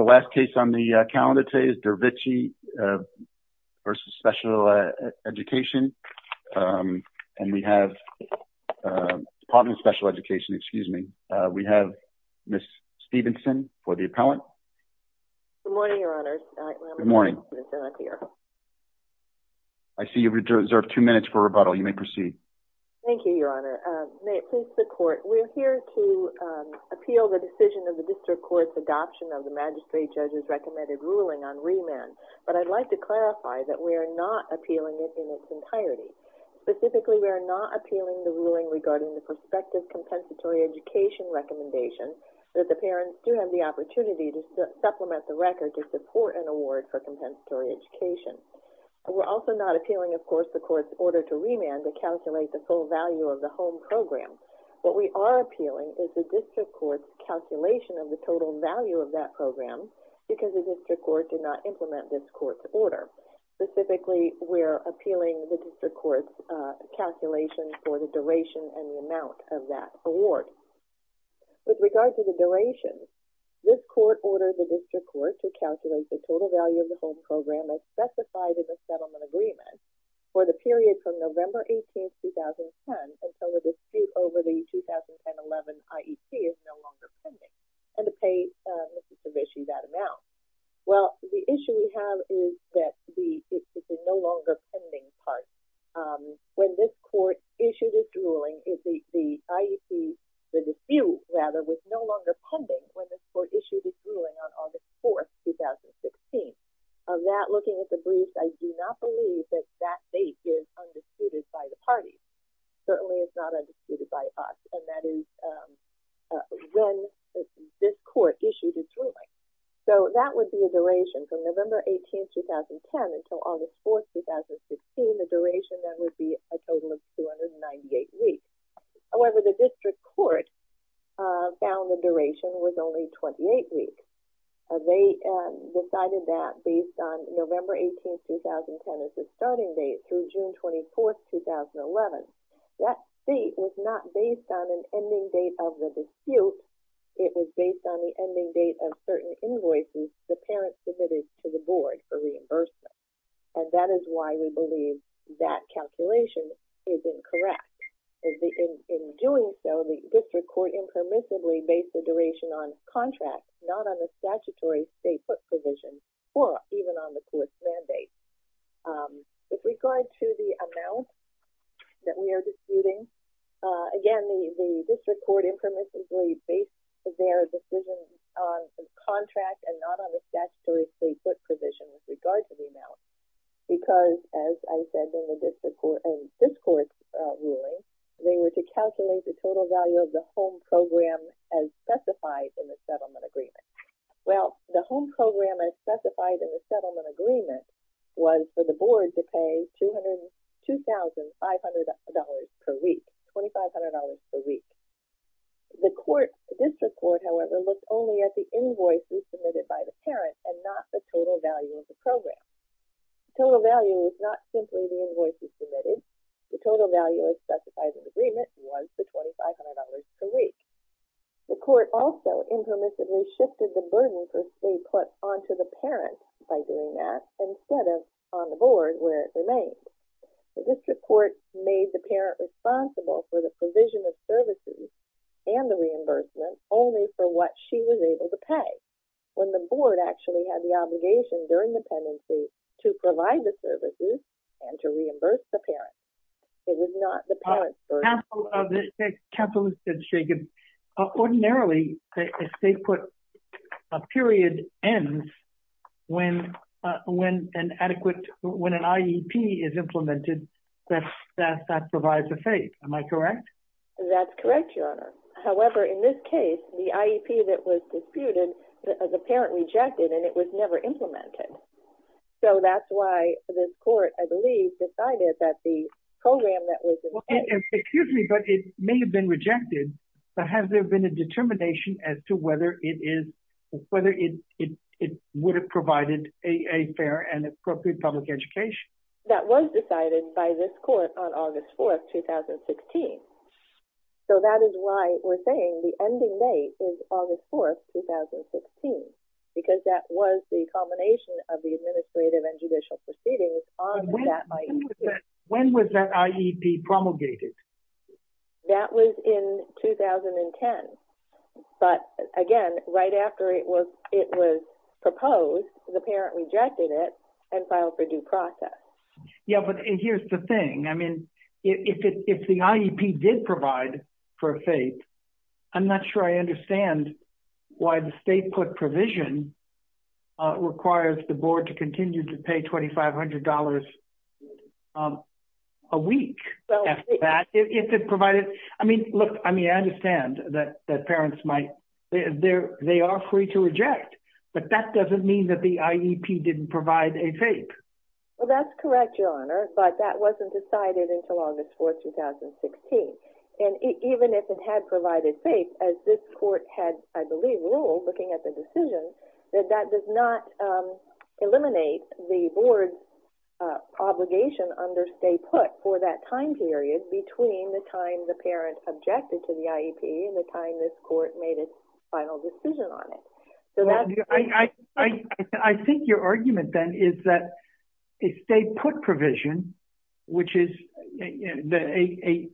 Dervishi v. Department of Special Education Ms. Stephenson Good morning, Your Honor. I see you have reserved two minutes for rebuttal. You may proceed. Thank you, Your Honor. We are here to appeal the decision of the District Court's adoption of the Magistrate Judge's recommended ruling on remand. But I'd like to clarify that we are not appealing it in its entirety. Specifically, we are not appealing the ruling regarding the prospective compensatory education recommendation that the parents do have the opportunity to supplement the record to support an award for compensatory education. We are also not appealing, of course, the Court's order to remand to calculate the full value of the home program. What we are appealing is the District Court's calculation of the total value of that program because the District Court did not implement this Court's order. Specifically, we are appealing the District Court's calculation for the duration and the amount of that award. With regard to the duration, this Court ordered the District Court to calculate the total value of the home program as specified in the settlement agreement for the period from November 18, 2010 until a dispute over the 2010-11 IEP is no longer pending and to pay Mr. Dervishi that amount. Well, the issue we have is that the no longer pending part. When this Court issued its ruling, the IEP, the dispute, rather, was no longer pending when this Court issued its ruling on August 4, 2016. Of that, looking at the briefs, I do not believe that that date is undisputed by the parties. Certainly, it's not undisputed by us, and that is when this Court issued its ruling. So, that would be a duration from November 18, 2010 until August 4, 2016. The duration then would be a total of 298 weeks. However, the District Court found the duration was only 28 weeks. They decided that based on November 18, 2010 as the starting date through June 24, 2011. That date was not based on an ending date of the dispute. It was based on the ending date of certain invoices the parent submitted to the Board for reimbursement. And that is why we believe that calculation is incorrect. In doing so, the District Court impermissibly based the duration on contracts, not on the statutory stay-put provision, or even on the Court's mandate. With regard to the amount that we are disputing, again, the District Court impermissibly based their decision on contracts and not on the statutory stay-put provision with regard to the amount. Because, as I said in this Court's ruling, they were to calculate the total value of the home program as specified in the settlement agreement. Well, the home program as specified in the settlement agreement was for the Board to pay $2,500 per week, $2,500 per week. The District Court, however, looked only at the invoices submitted by the parent and not the total value of the program. The total value was not simply the invoices submitted. The total value as specified in the agreement was the $2,500 per week. The Court also impermissibly shifted the burden for stay-put onto the parent by doing that instead of on the Board where it remained. The District Court made the parent responsible for the provision of services and the reimbursement only for what she was able to pay, when the Board actually had the obligation during the pendency to provide the services and to reimburse the parent. It was not the parent's burden. On behalf of the capitalists at Sagan, ordinarily, a stay-put period ends when an adequate, when an IEP is implemented, that provides a phase. Am I correct? That's correct, Your Honor. However, in this case, the IEP that was disputed, the parent rejected, and it was never implemented. So that's why this Court, I believe, decided that the program that was in place… Excuse me, but it may have been rejected, but has there been a determination as to whether it would have provided a fair and appropriate public education? That was decided by this Court on August 4th, 2016. So that is why we're saying the ending date is August 4th, 2016, because that was the culmination of the administrative and judicial proceedings on that IEP. When was that IEP promulgated? That was in 2010. But again, right after it was proposed, the parent rejected it and filed for due process. Yeah, but here's the thing. I mean, if the IEP did provide for a FAPE, I'm not sure I understand why the stay-put provision requires the Board to continue to pay $2,500 a week after that. If it provided… I mean, look, I mean, I understand that parents might… they are free to reject, but that doesn't mean that the IEP didn't provide a FAPE. Well, that's correct, Your Honor, but that wasn't decided until August 4th, 2016. And even if it had provided FAPE, as this Court had, I believe, ruled, looking at the decision, that that does not eliminate the Board's obligation under stay-put for that time period between the time the parent objected to the IEP and the time this Court made its final decision on it. I think your argument, then, is that a stay-put provision, which is… a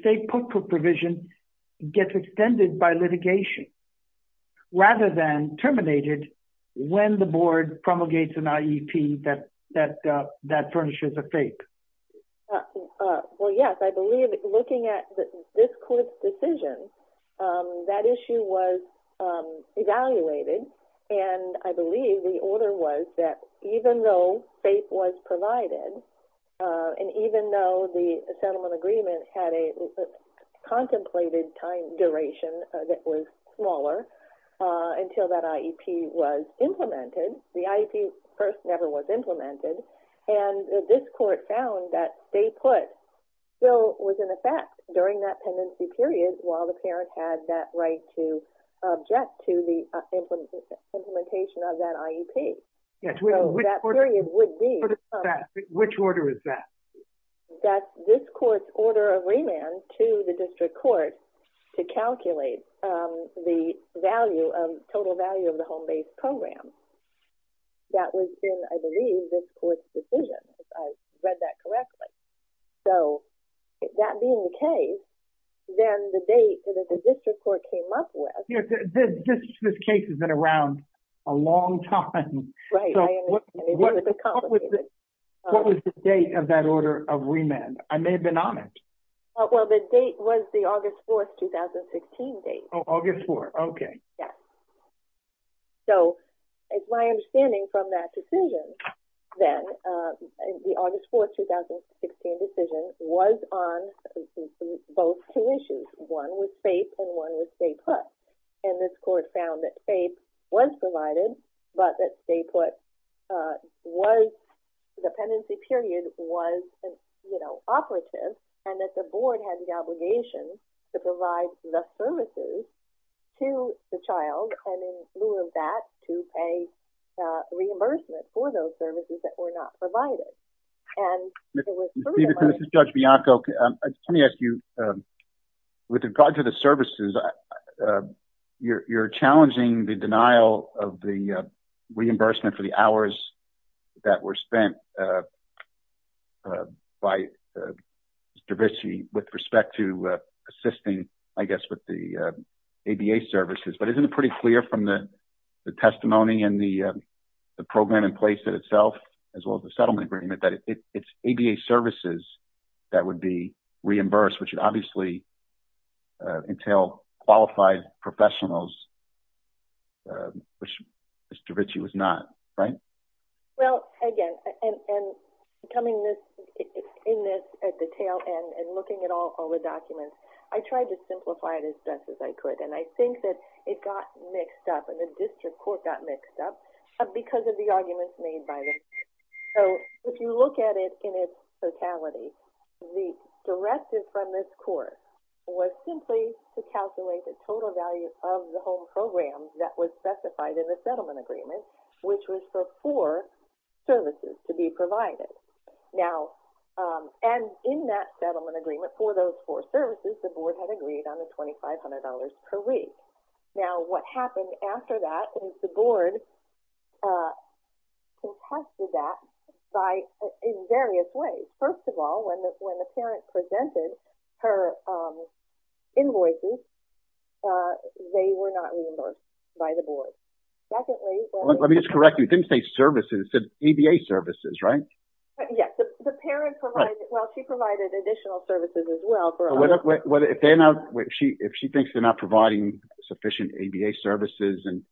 stay-put provision gets extended by litigation rather than terminated when the Board promulgates an IEP that furnishes a FAPE. Well, yes, I believe, looking at this Court's decision, that issue was evaluated, and I believe the order was that even though FAPE was provided, and even though the settlement agreement had a contemplated time duration that was smaller until that IEP was implemented, the IEP first never was implemented, and this Court found that stay-put still was in effect during that pendency period while the parent had that right to object to the implementation of that IEP. Which order is that? That this Court's order of remand to the District Court to calculate the value of… total value of the home-based program. That was in, I believe, this Court's decision, if I read that correctly. So, that being the case, then the date that the District Court came up with… You know, this case has been around a long time. Right. What was the date of that order of remand? I may have been honest. Well, the date was the August 4th, 2016 date. Oh, August 4th. Okay. Yes. So, it's my understanding from that decision, then, the August 4th, 2016 decision was on both two issues. One was FAPE and one was stay-put, and this Court found that FAPE was provided but that stay-put was… that the Board had the obligation to provide the services to the child and, in lieu of that, to pay reimbursement for those services that were not provided. And there was further money… Ms. Stevenson, this is Judge Bianco. Let me ask you, with regard to the services, you're challenging the denial of the reimbursement for the hours that were spent by Mr. Ritchie with respect to assisting, I guess, with the ABA services. But isn't it pretty clear from the testimony and the program in place itself, as well as the settlement agreement, that it's ABA services that would be reimbursed, which would obviously entail qualified professionals, which Mr. Ritchie was not, right? Well, again, and coming in this detail and looking at all the documents, I tried to simplify it as best as I could, and I think that it got mixed up and the District Court got mixed up because of the arguments made by the… So, if you look at it in its totality, the directive from this Court was simply to calculate the total value of the home program that was specified in the settlement agreement, which was for four services to be provided. Now, and in that settlement agreement for those four services, the Board had agreed on the $2,500 per week. Now, what happened after that was the Board contested that in various ways. First of all, when the parent presented her invoices, they were not reimbursed by the Board. Let me just correct you. It didn't say services. It said ABA services, right? Yes. The parent provided – well, she provided additional services, as well. If she thinks they're not providing sufficient ABA services and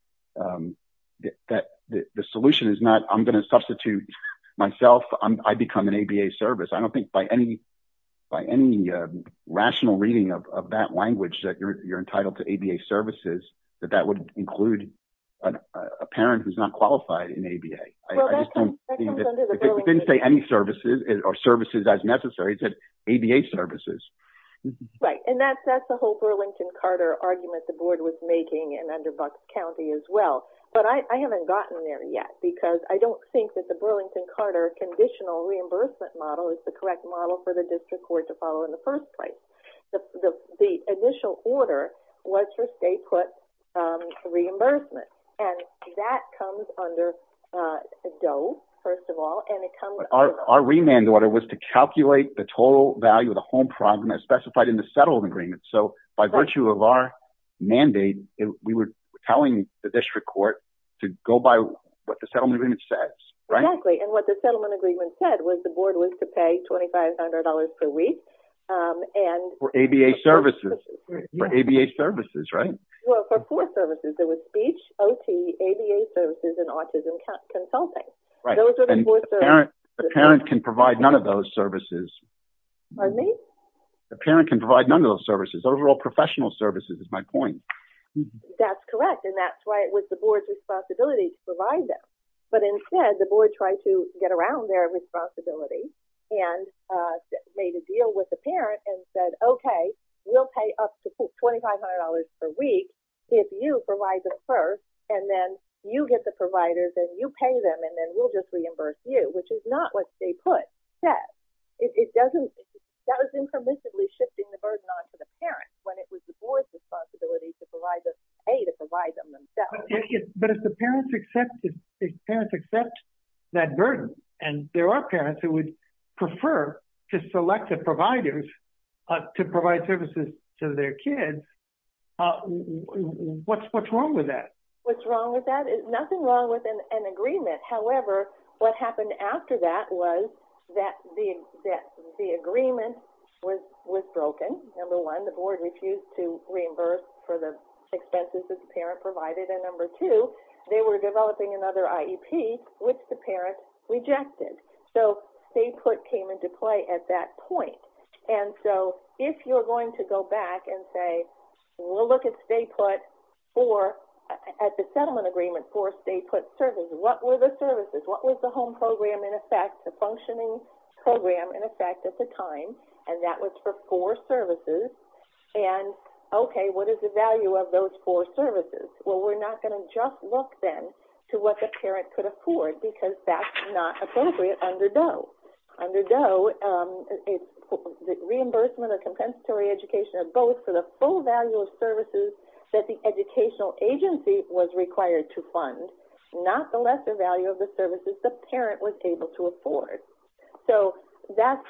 that the solution is not I'm going to substitute myself, I become an ABA service. I don't think by any rational reading of that language that you're entitled to ABA services that that would include a parent who's not qualified in ABA. Well, that comes under the Burlington… It didn't say any services or services as necessary. It said ABA services. Right. And that's the whole Burlington-Carter argument the Board was making and under Buck County, as well. But I haven't gotten there yet because I don't think that the Burlington-Carter conditional reimbursement model is the correct model for the District Court to follow in the first place. The initial order was for state-put reimbursement, and that comes under DOE, first of all, and it comes… Our remand order was to calculate the total value of the home property as specified in the settlement agreement. So, by virtue of our mandate, we were telling the District Court to go by what the settlement agreement says, right? For ABA services. For ABA services, right? Well, for four services. There was speech, OT, ABA services, and autism consulting. Right. Those are the four services. The parent can provide none of those services. Pardon me? The parent can provide none of those services, overall professional services is my point. That's correct, and that's why it was the Board's responsibility to provide them. But instead, the Board tried to get around their responsibility and made a deal with the parent and said, okay, we'll pay up to $2,500 per week if you provide them first, and then you get the providers and you pay them, and then we'll just reimburse you, which is not what state-put said. That was impermissibly shifting the burden onto the parent when it was the Board's responsibility to provide them, A, to provide them themselves. But if the parents accept that burden, and there are parents who would prefer to select the providers to provide services to their kids, what's wrong with that? Nothing wrong with an agreement. However, what happened after that was that the agreement was broken. Number one, the Board refused to reimburse for the expenses that the parent provided, and number two, they were developing another IEP, which the parent rejected. So state-put came into play at that point. And so if you're going to go back and say, we'll look at the settlement agreement for state-put services. What were the services? What was the home program in effect, the functioning program in effect at the time? And that was for four services. And, okay, what is the value of those four services? Well, we're not going to just look then to what the parent could afford because that's not appropriate under DOE. Under DOE, the reimbursement of compensatory education of both for the full value of services that the educational agency was required to fund, not the lesser value of the services the parent was able to afford. So that's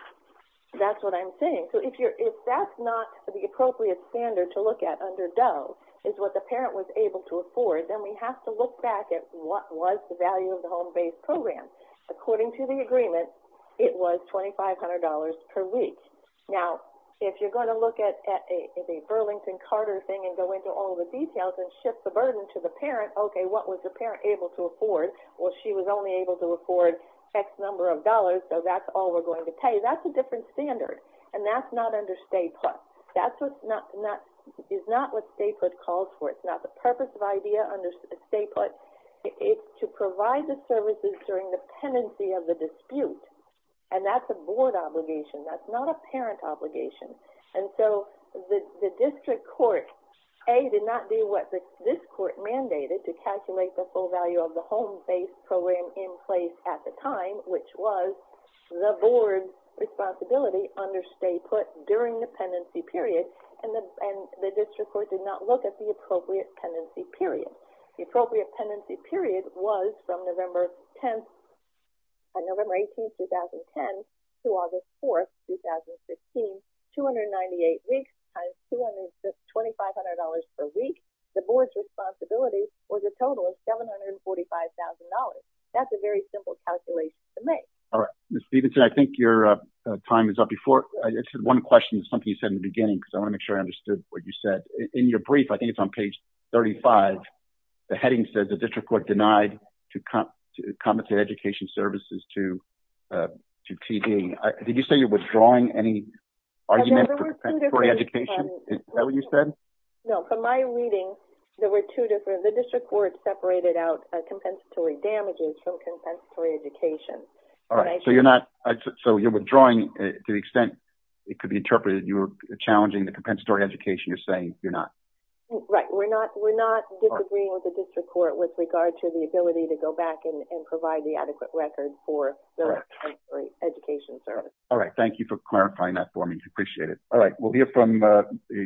what I'm saying. So if that's not the appropriate standard to look at under DOE, is what the parent was able to afford, then we have to look back at what was the value of the home-based program. According to the agreement, it was $2,500 per week. Now, if you're going to look at the Burlington-Carter thing and go into all the details and shift the burden to the parent, okay, what was the parent able to afford? Well, she was only able to afford X number of dollars, so that's all we're going to pay. That's a different standard, and that's not under state-put. That is not what state-put calls for. It's not the purpose of IDEA under state-put. It's to provide the services during the pendency of the dispute, and that's a board obligation. That's not a parent obligation. And so the district court, A, did not do what this court mandated to calculate the full value of the home-based program in place at the time, which was the board's responsibility under state-put during the pendency period, and the district court did not look at the appropriate pendency period. The appropriate pendency period was from November 10th, November 18th, 2010, to August 4th, 2015, 298 weeks times $2,500 per week. The board's responsibility was a total of $745,000. That's a very simple calculation to make. All right. Ms. Stephenson, I think your time is up. Before, I just had one question. It's something you said in the beginning because I want to make sure I understood what you said. In your brief, I think it's on page 35, the heading says the district court denied to compensate education services to TD. Did you say you're withdrawing any argument for compensatory education? Is that what you said? No. From my reading, there were two different. The district court separated out compensatory damages from compensatory education. All right. So you're withdrawing to the extent it could be interpreted you were challenging the compensatory education. You're saying you're not. Right. We're not disagreeing with the district court with regard to the ability to go back and provide the adequate record for the compensatory education service. All right. Thank you for clarifying that for me. I appreciate it. All right.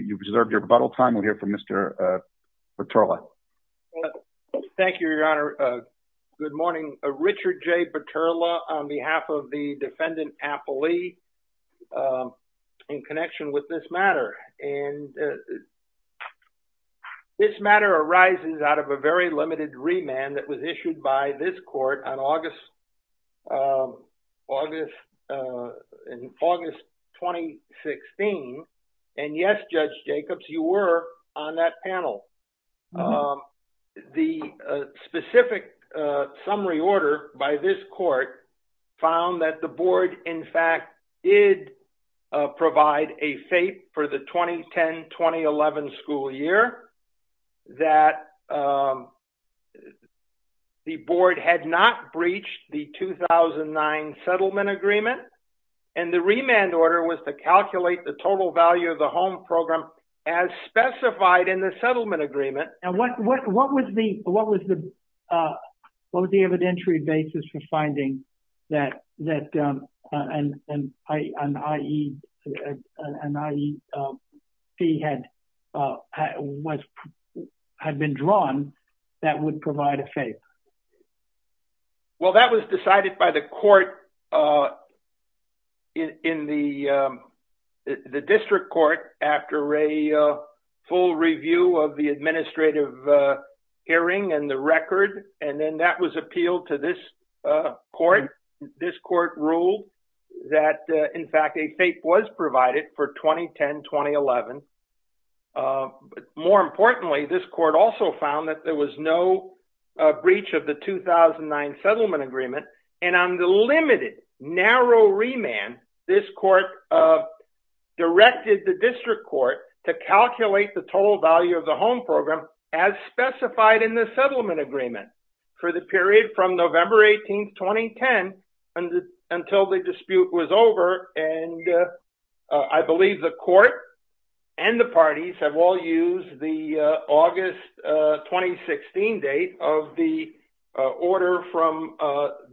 You've deserved your rebuttal time. We'll hear from Mr. Baterla. Thank you, Your Honor. Good morning. I'm Richard J. Baterla on behalf of the defendant Applee in connection with this matter. And this matter arises out of a very limited remand that was issued by this court on August 2016. And, yes, Judge Jacobs, you were on that panel. The specific summary order by this court found that the board, in fact, did provide a fate for the 2010-2011 school year, that the board had not breached the 2009 settlement agreement. And the remand order was to calculate the total value of the home program as specified in the settlement agreement. And what was the evidentiary basis for finding that an IEP had been drawn that would provide a fate? Well, that was decided by the court in the district court after a full review of the administrative hearing and the record. And then that was appealed to this court. This court ruled that, in fact, a fate was provided for 2010-2011. More importantly, this court also found that there was no breach of the 2009 settlement agreement. And on the limited, narrow remand, this court directed the district court to calculate the total value of the home program as specified in the settlement agreement for the period from November 18, 2010, until the dispute was over. And I believe the court and the parties have all used the August 2016 date of the order from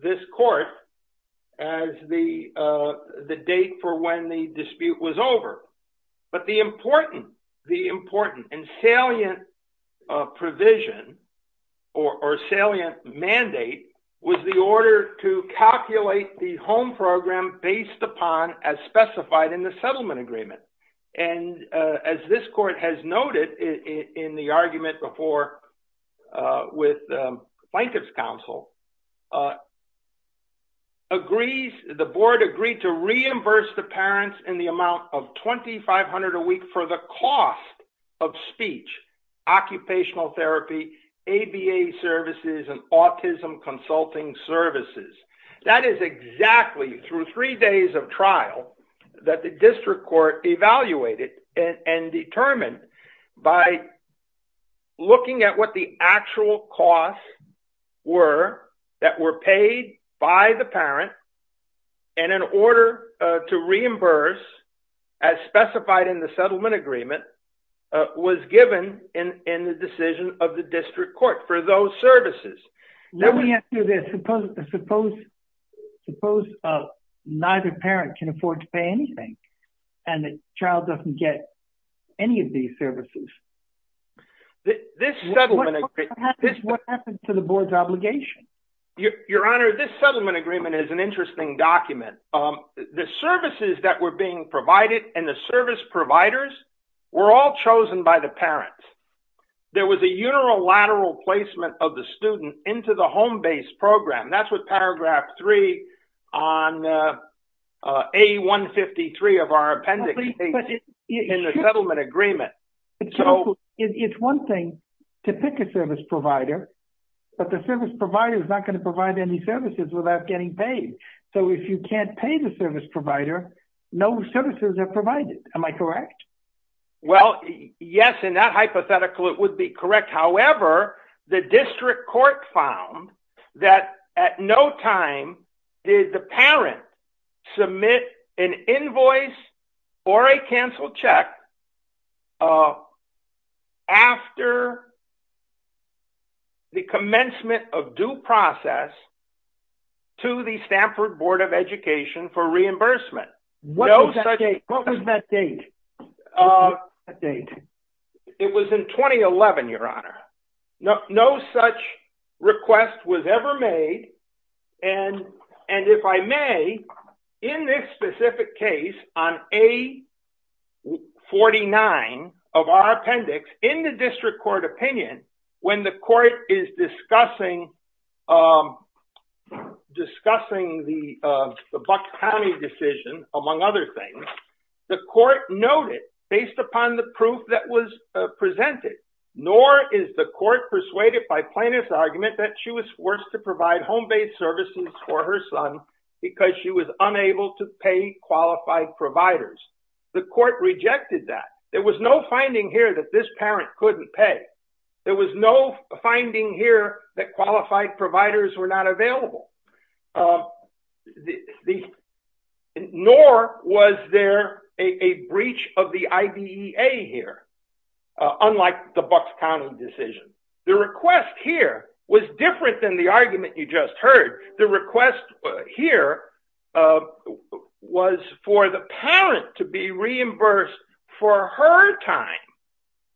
this court as the date for when the dispute was over. But the important and salient provision or salient mandate was the order to calculate the home program based upon as specified in the settlement agreement. And as this court has noted in the argument before with plaintiff's counsel, the board agreed to reimburse the parents in the amount of $2,500 a week for the cost of speech, occupational therapy, ABA services, and autism consulting services. That is exactly through three days of trial that the district court evaluated and determined by looking at what the actual costs were that were paid by the parent and in order to reimburse as specified in the settlement agreement was given in the decision of the district court for those services. Suppose neither parent can afford to pay anything and the child doesn't get any of these services. What happened to the board's obligation? Your Honor, this settlement agreement is an interesting document. The services that were being provided and the service providers were all chosen by the parents. There was a unilateral placement of the student into the home-based program. That's what Paragraph 3 on A153 of our appendix states in the settlement agreement. It's one thing to pick a service provider, but the service provider is not going to provide any services without getting paid. So if you can't pay the service provider, no services are provided. Am I correct? Well, yes, in that hypothetical it would be correct. However, the district court found that at no time did the parent submit an invoice or a canceled check after the commencement of due process to the Stanford Board of Education for reimbursement. What was that date? It was in 2011, Your Honor. No such request was ever made. And if I may, in this specific case on A49 of our appendix, in the district court opinion, when the court is discussing the Buck County decision, among other things, the court noted, based upon the proof that was presented, nor is the court persuaded by plaintiff's argument that she was forced to provide home-based services for her son because she was unable to pay qualified providers. The court rejected that. There was no finding here that this parent couldn't pay. There was no finding here that qualified providers were not available, nor was there a breach of the IDEA here. Unlike the Buck County decision. The request here was different than the argument you just heard. The request here was for the parent to be reimbursed for her time.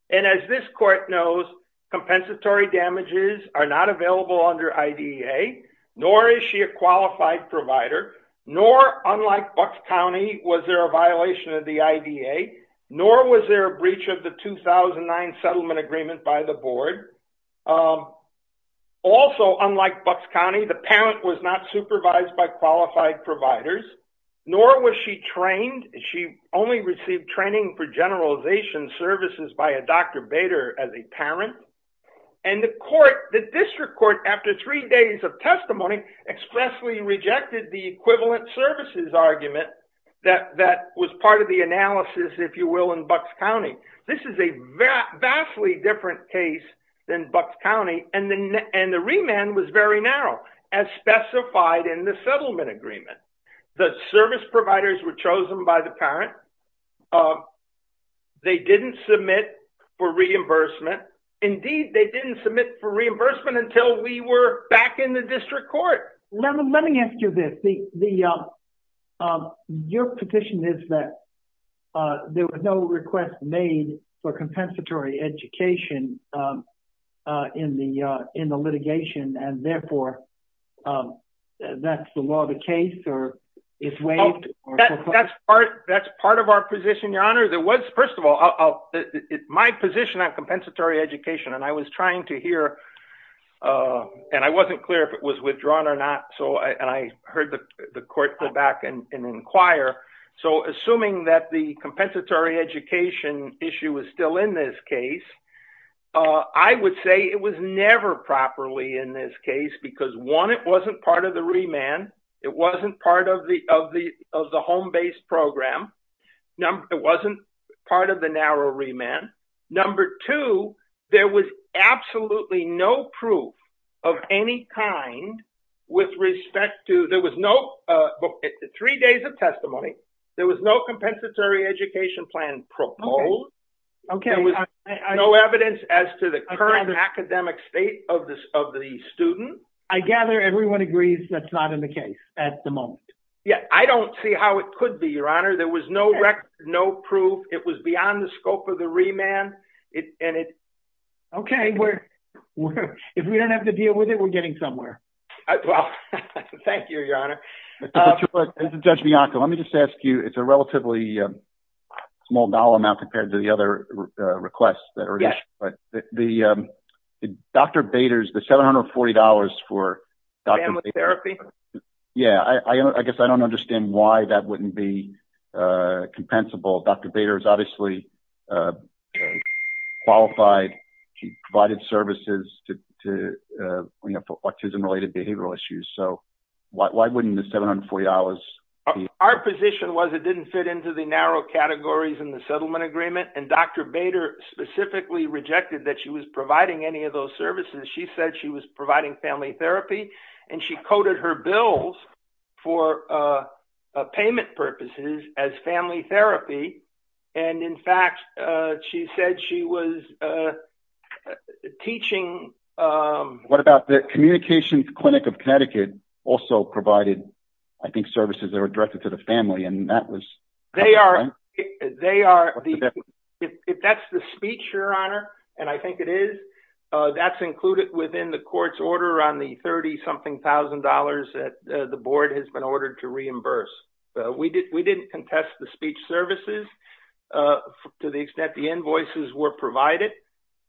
And as this court knows, compensatory damages are not available under IDEA, nor is she a qualified provider, nor, unlike Buck County, was there a violation of the IDEA, nor was there a breach of the 2009 settlement agreement by the board. Also, unlike Buck County, the parent was not supervised by qualified providers, nor was she trained. She only received training for generalization services by a Dr. Bader as a parent. And the district court, after three days of testimony, expressly rejected the equivalent services argument that was part of the analysis, if you will, in Buck County. This is a vastly different case than Buck County, and the remand was very narrow, as specified in the settlement agreement. The service providers were chosen by the parent. They didn't submit for reimbursement. Indeed, they didn't submit for reimbursement until we were back in the district court. Let me ask you this. Your petition is that there was no request made for compensatory education in the litigation, and therefore, that's the law of the case, or it's waived? That's part of our position, Your Honor. First of all, my position on compensatory education, and I was trying to hear, and I wasn't clear if it was withdrawn or not, and I heard the court go back and inquire. So assuming that the compensatory education issue is still in this case, I would say it was never properly in this case because, one, it wasn't part of the remand. It wasn't part of the home-based program. It wasn't part of the narrow remand. Number two, there was absolutely no proof of any kind with respect to – there was no – three days of testimony. There was no compensatory education plan proposed. Okay. There was no evidence as to the current academic state of the student. I gather everyone agrees that's not in the case at the moment. Yeah. I don't see how it could be, Your Honor. There was no record, no proof. It was beyond the scope of the remand, and it – Okay. If we don't have to deal with it, we're getting somewhere. Well, thank you, Your Honor. Judge Bianco, let me just ask you. It's a relatively small dollar amount compared to the other requests. Yes. But the – Dr. Bader's – the $740 for – Family therapy? Yeah. I guess I don't understand why that wouldn't be compensable. Dr. Bader is obviously qualified. She provided services to, you know, for autism-related behavioral issues. So why wouldn't the $740 be – Our position was it didn't fit into the narrow categories in the settlement agreement, and Dr. Bader specifically rejected that she was providing any of those services. She said she was providing family therapy, and she coded her bills for payment purposes as family therapy. And, in fact, she said she was teaching – What about the communications clinic of Connecticut also provided, I think, services that were directed to the family, and that was – They are – If that's the speech, Your Honor, and I think it is, that's included within the court's order on the $30-something thousand that the board has been ordered to reimburse. We didn't contest the speech services to the extent the invoices were provided,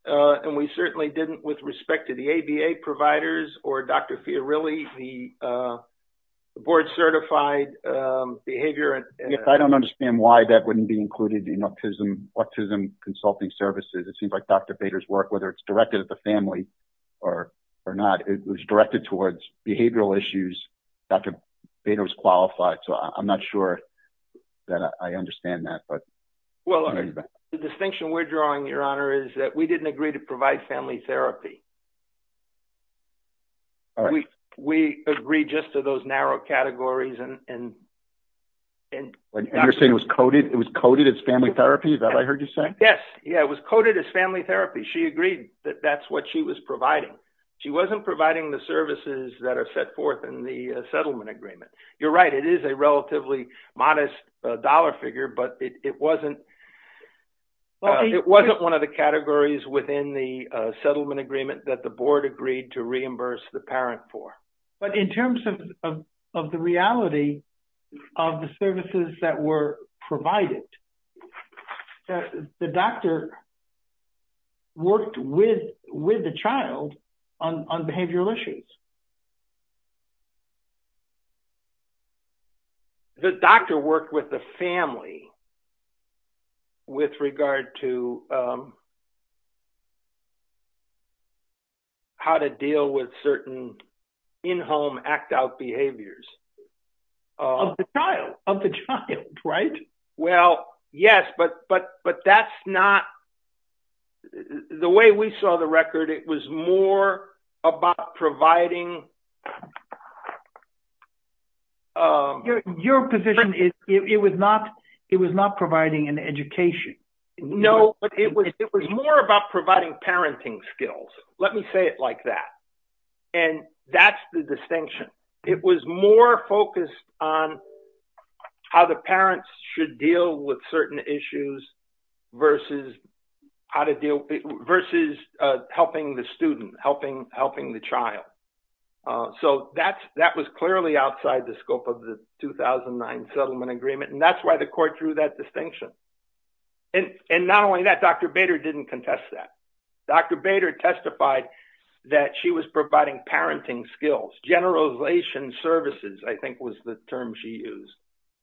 and we certainly didn't with respect to the ABA providers or Dr. Fiorilli. The board-certified behavior – I don't understand why that wouldn't be included in autism consulting services. It seems like Dr. Bader's work, whether it's directed at the family or not, it was directed towards behavioral issues. Dr. Bader was qualified, so I'm not sure that I understand that. Well, the distinction we're drawing, Your Honor, is that we didn't agree to provide family therapy. All right. We agreed just to those narrow categories and – And you're saying it was coded as family therapy? Is that what I heard you say? Yes. Yeah, it was coded as family therapy. She agreed that that's what she was providing. She wasn't providing the services that are set forth in the settlement agreement. It is a relatively modest dollar figure, but it wasn't – It wasn't one of the categories within the settlement agreement that the board agreed to reimburse the parent for. But in terms of the reality of the services that were provided, the doctor worked with the child on behavioral issues. The doctor worked with the family with regard to how to deal with certain in-home, act-out behaviors. Of the child, right? Well, yes, but that's not – the way we saw the record, it was more about providing – Your position is it was not providing an education. No, but it was more about providing parenting skills. Let me say it like that. And that's the distinction. It was more focused on how the parents should deal with certain issues versus helping the student, helping the child. So that was clearly outside the scope of the 2009 settlement agreement, and that's why the court drew that distinction. And not only that, Dr. Bader didn't contest that. Dr. Bader testified that she was providing parenting skills. Generalization services, I think, was the term she used.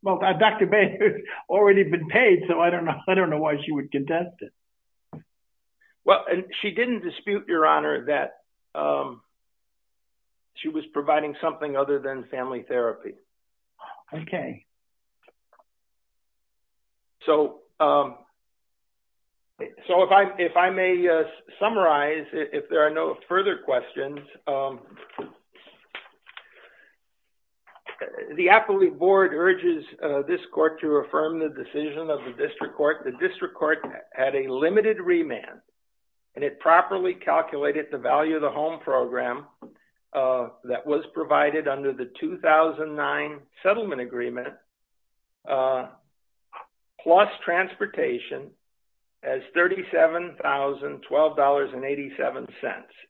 Well, Dr. Bader had already been paid, so I don't know why she would contest it. Well, she didn't dispute, Your Honor, that she was providing something other than family therapy. Okay. So if I may summarize, if there are no further questions, the appellate board urges this court to affirm the decision of the district court. The district court had a limited remand, and it properly calculated the value of the home program that was provided under the 2009 settlement agreement plus transportation as $37,012.87.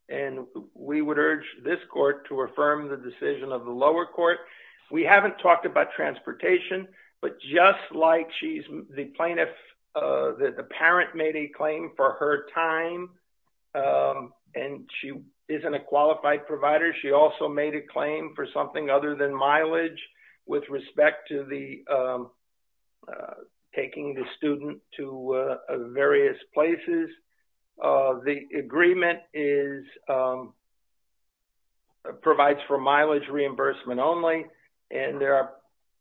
And we would urge this court to affirm the decision of the lower court. We haven't talked about transportation, but just like the parent made a claim for her time and she isn't a qualified provider, she also made a claim for something other than mileage with respect to taking the student to various places. The agreement provides for mileage reimbursement only, and there are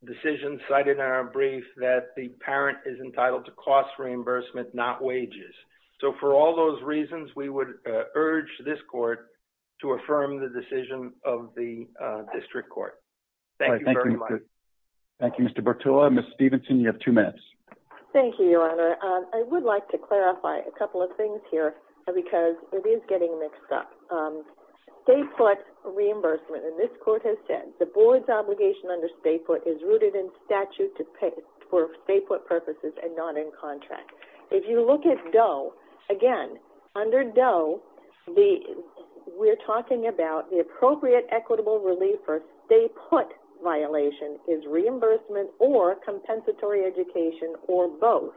decisions cited in our brief that the parent is entitled to cost reimbursement, not wages. So for all those reasons, we would urge this court to affirm the decision of the district court. Thank you very much. Thank you, Mr. Bertullo. Thank you, Your Honor. I would like to clarify a couple of things here because it is getting mixed up. Stay put reimbursement, and this court has said, the board's obligation under stay put is rooted in statute for stay put purposes and not in contract. If you look at DOE, again, under DOE, we're talking about the appropriate equitable relief for stay put violation is reimbursement or compensatory education or both.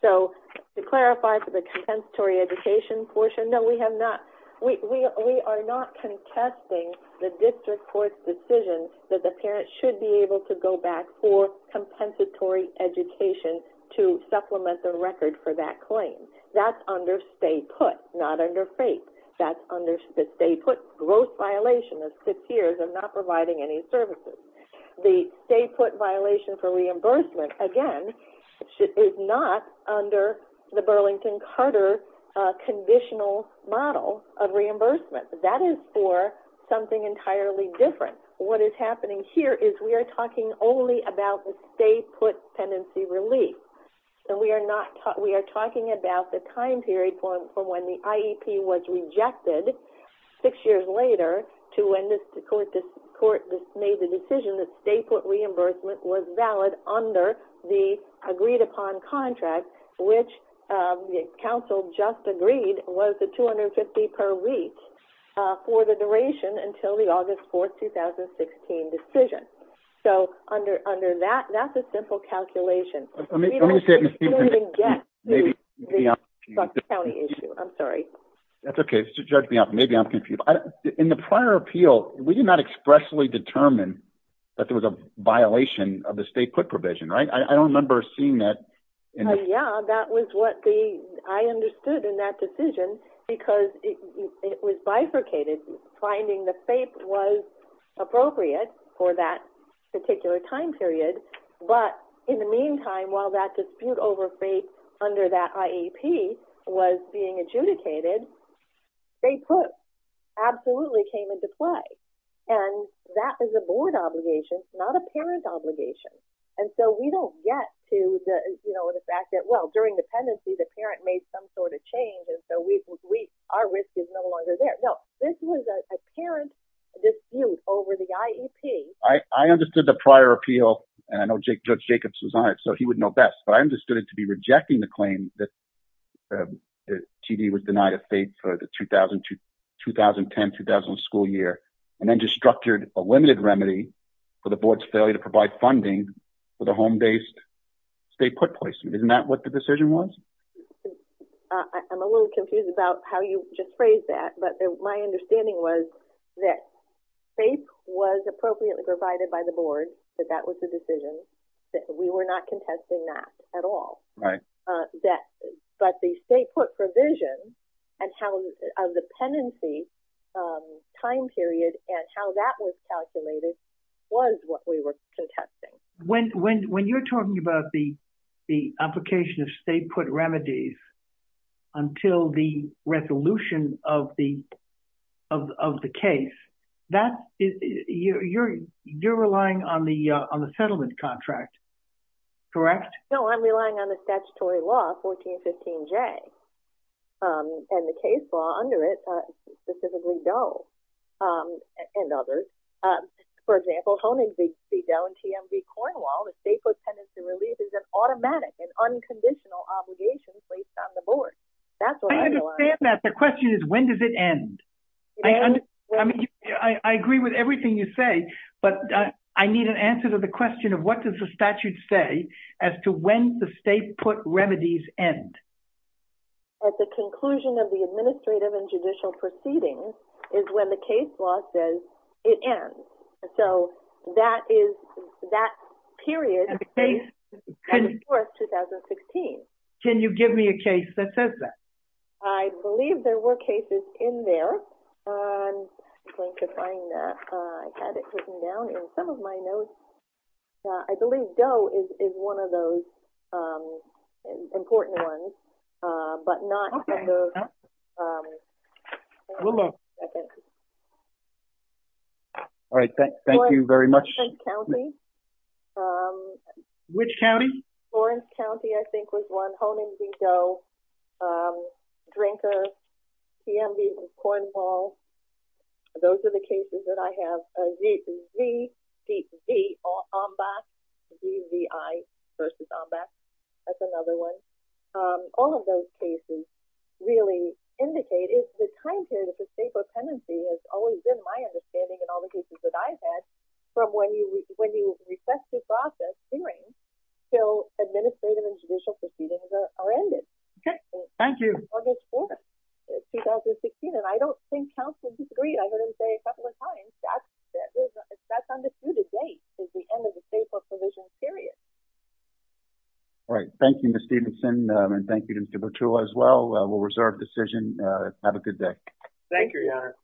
So to clarify for the compensatory education portion, no, we are not contesting the district court's decision that the parent should be able to go back for compensatory education to supplement the record for that claim. That's under stay put, not under fake. That's under the stay put gross violation of six years of not providing any services. The stay put violation for reimbursement, again, is not under the Burlington-Carter conditional model of reimbursement. That is for something entirely different. What is happening here is we are talking only about the stay put pendency relief. We are talking about the time period from when the IEP was rejected six years later to when the court made the decision that stay put reimbursement was valid under the agreed upon contract, which the council just agreed was the 250 per week for the duration until the August 4th, 2016 decision. So under that, that's a simple calculation. We don't even get to the county issue, I'm sorry. That's okay. Just judge me off. Maybe I'm confused. In the prior appeal, we did not expressly determine that there was a violation of the stay put provision, right? I don't remember seeing that. Yeah, that was what I understood in that decision because it was bifurcated. Finding the fake was appropriate for that particular time period. But in the meantime, while that dispute over fake under that IEP was being adjudicated, stay put absolutely came into play. And that is a board obligation, not a parent obligation. And so we don't get to the fact that, well, during the pendency, the parent made some sort of change. And so our risk is no longer there. No, this was a parent dispute over the IEP. I understood the prior appeal and I know Judge Jacobs was on it, so he would know best. But I understood it to be rejecting the claim that TD was denied a FAPE for the 2010-2001 school year and then just structured a limited remedy for the board's failure to provide funding for the home-based stay put placement. Isn't that what the decision was? I'm a little confused about how you just phrased that. But my understanding was that FAPE was appropriately provided by the board, that that was the decision. We were not contesting that at all. But the stay put provision and how the pendency time period and how that was calculated was what we were contesting. When you're talking about the application of stay put remedies until the resolution of the case, you're relying on the settlement contract, correct? No, I'm relying on the statutory law, 1415J, and the case law under it, specifically Doe and others. For example, Honig v. Doe and TM v. Cornwall, the stay put pendency relief is an automatic and unconditional obligation placed on the board. I understand that. The question is, when does it end? I agree with everything you say, but I need an answer to the question of what does the statute say as to when the stay put remedies end? At the conclusion of the administrative and judicial proceedings is when the case law says it ends. So that is that period of the case, of course, 2016. Can you give me a case that says that? I believe there were cases in there. I'm going to find that. I had it written down in some of my notes. I believe Doe is one of those important ones, but not in those. A little more. All right, thank you very much. Lawrence County. Which county? Lawrence County, I think, was one. And then the next one, and that's Cone and Vigo, Drinker, T.M.V. and Cornwall. Those are the cases that I have. Z, V, Z, Z, Omba. Z, V, I versus Omba. That's another one. All of those cases really indicate if the time period of the stay put pendency has always been my understanding in all the cases that I've had from when you request to process hearings till administrative and judicial proceedings are ended. Okay, thank you. August 4th, 2016. And I don't think counsel disagreed. I've heard him say a couple of times that that's undisputed date is the end of the stay put provision period. All right, thank you, Ms. Stevenson. And thank you to Mr. Bertullo as well. We'll reserve decision. Have a good day. Thank you, Your Honor.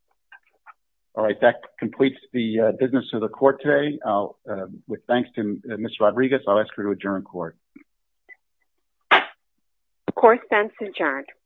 All right, that completes the business of the court today. With thanks to Ms. Rodriguez, I'll ask her to adjourn court. The court stands adjourned.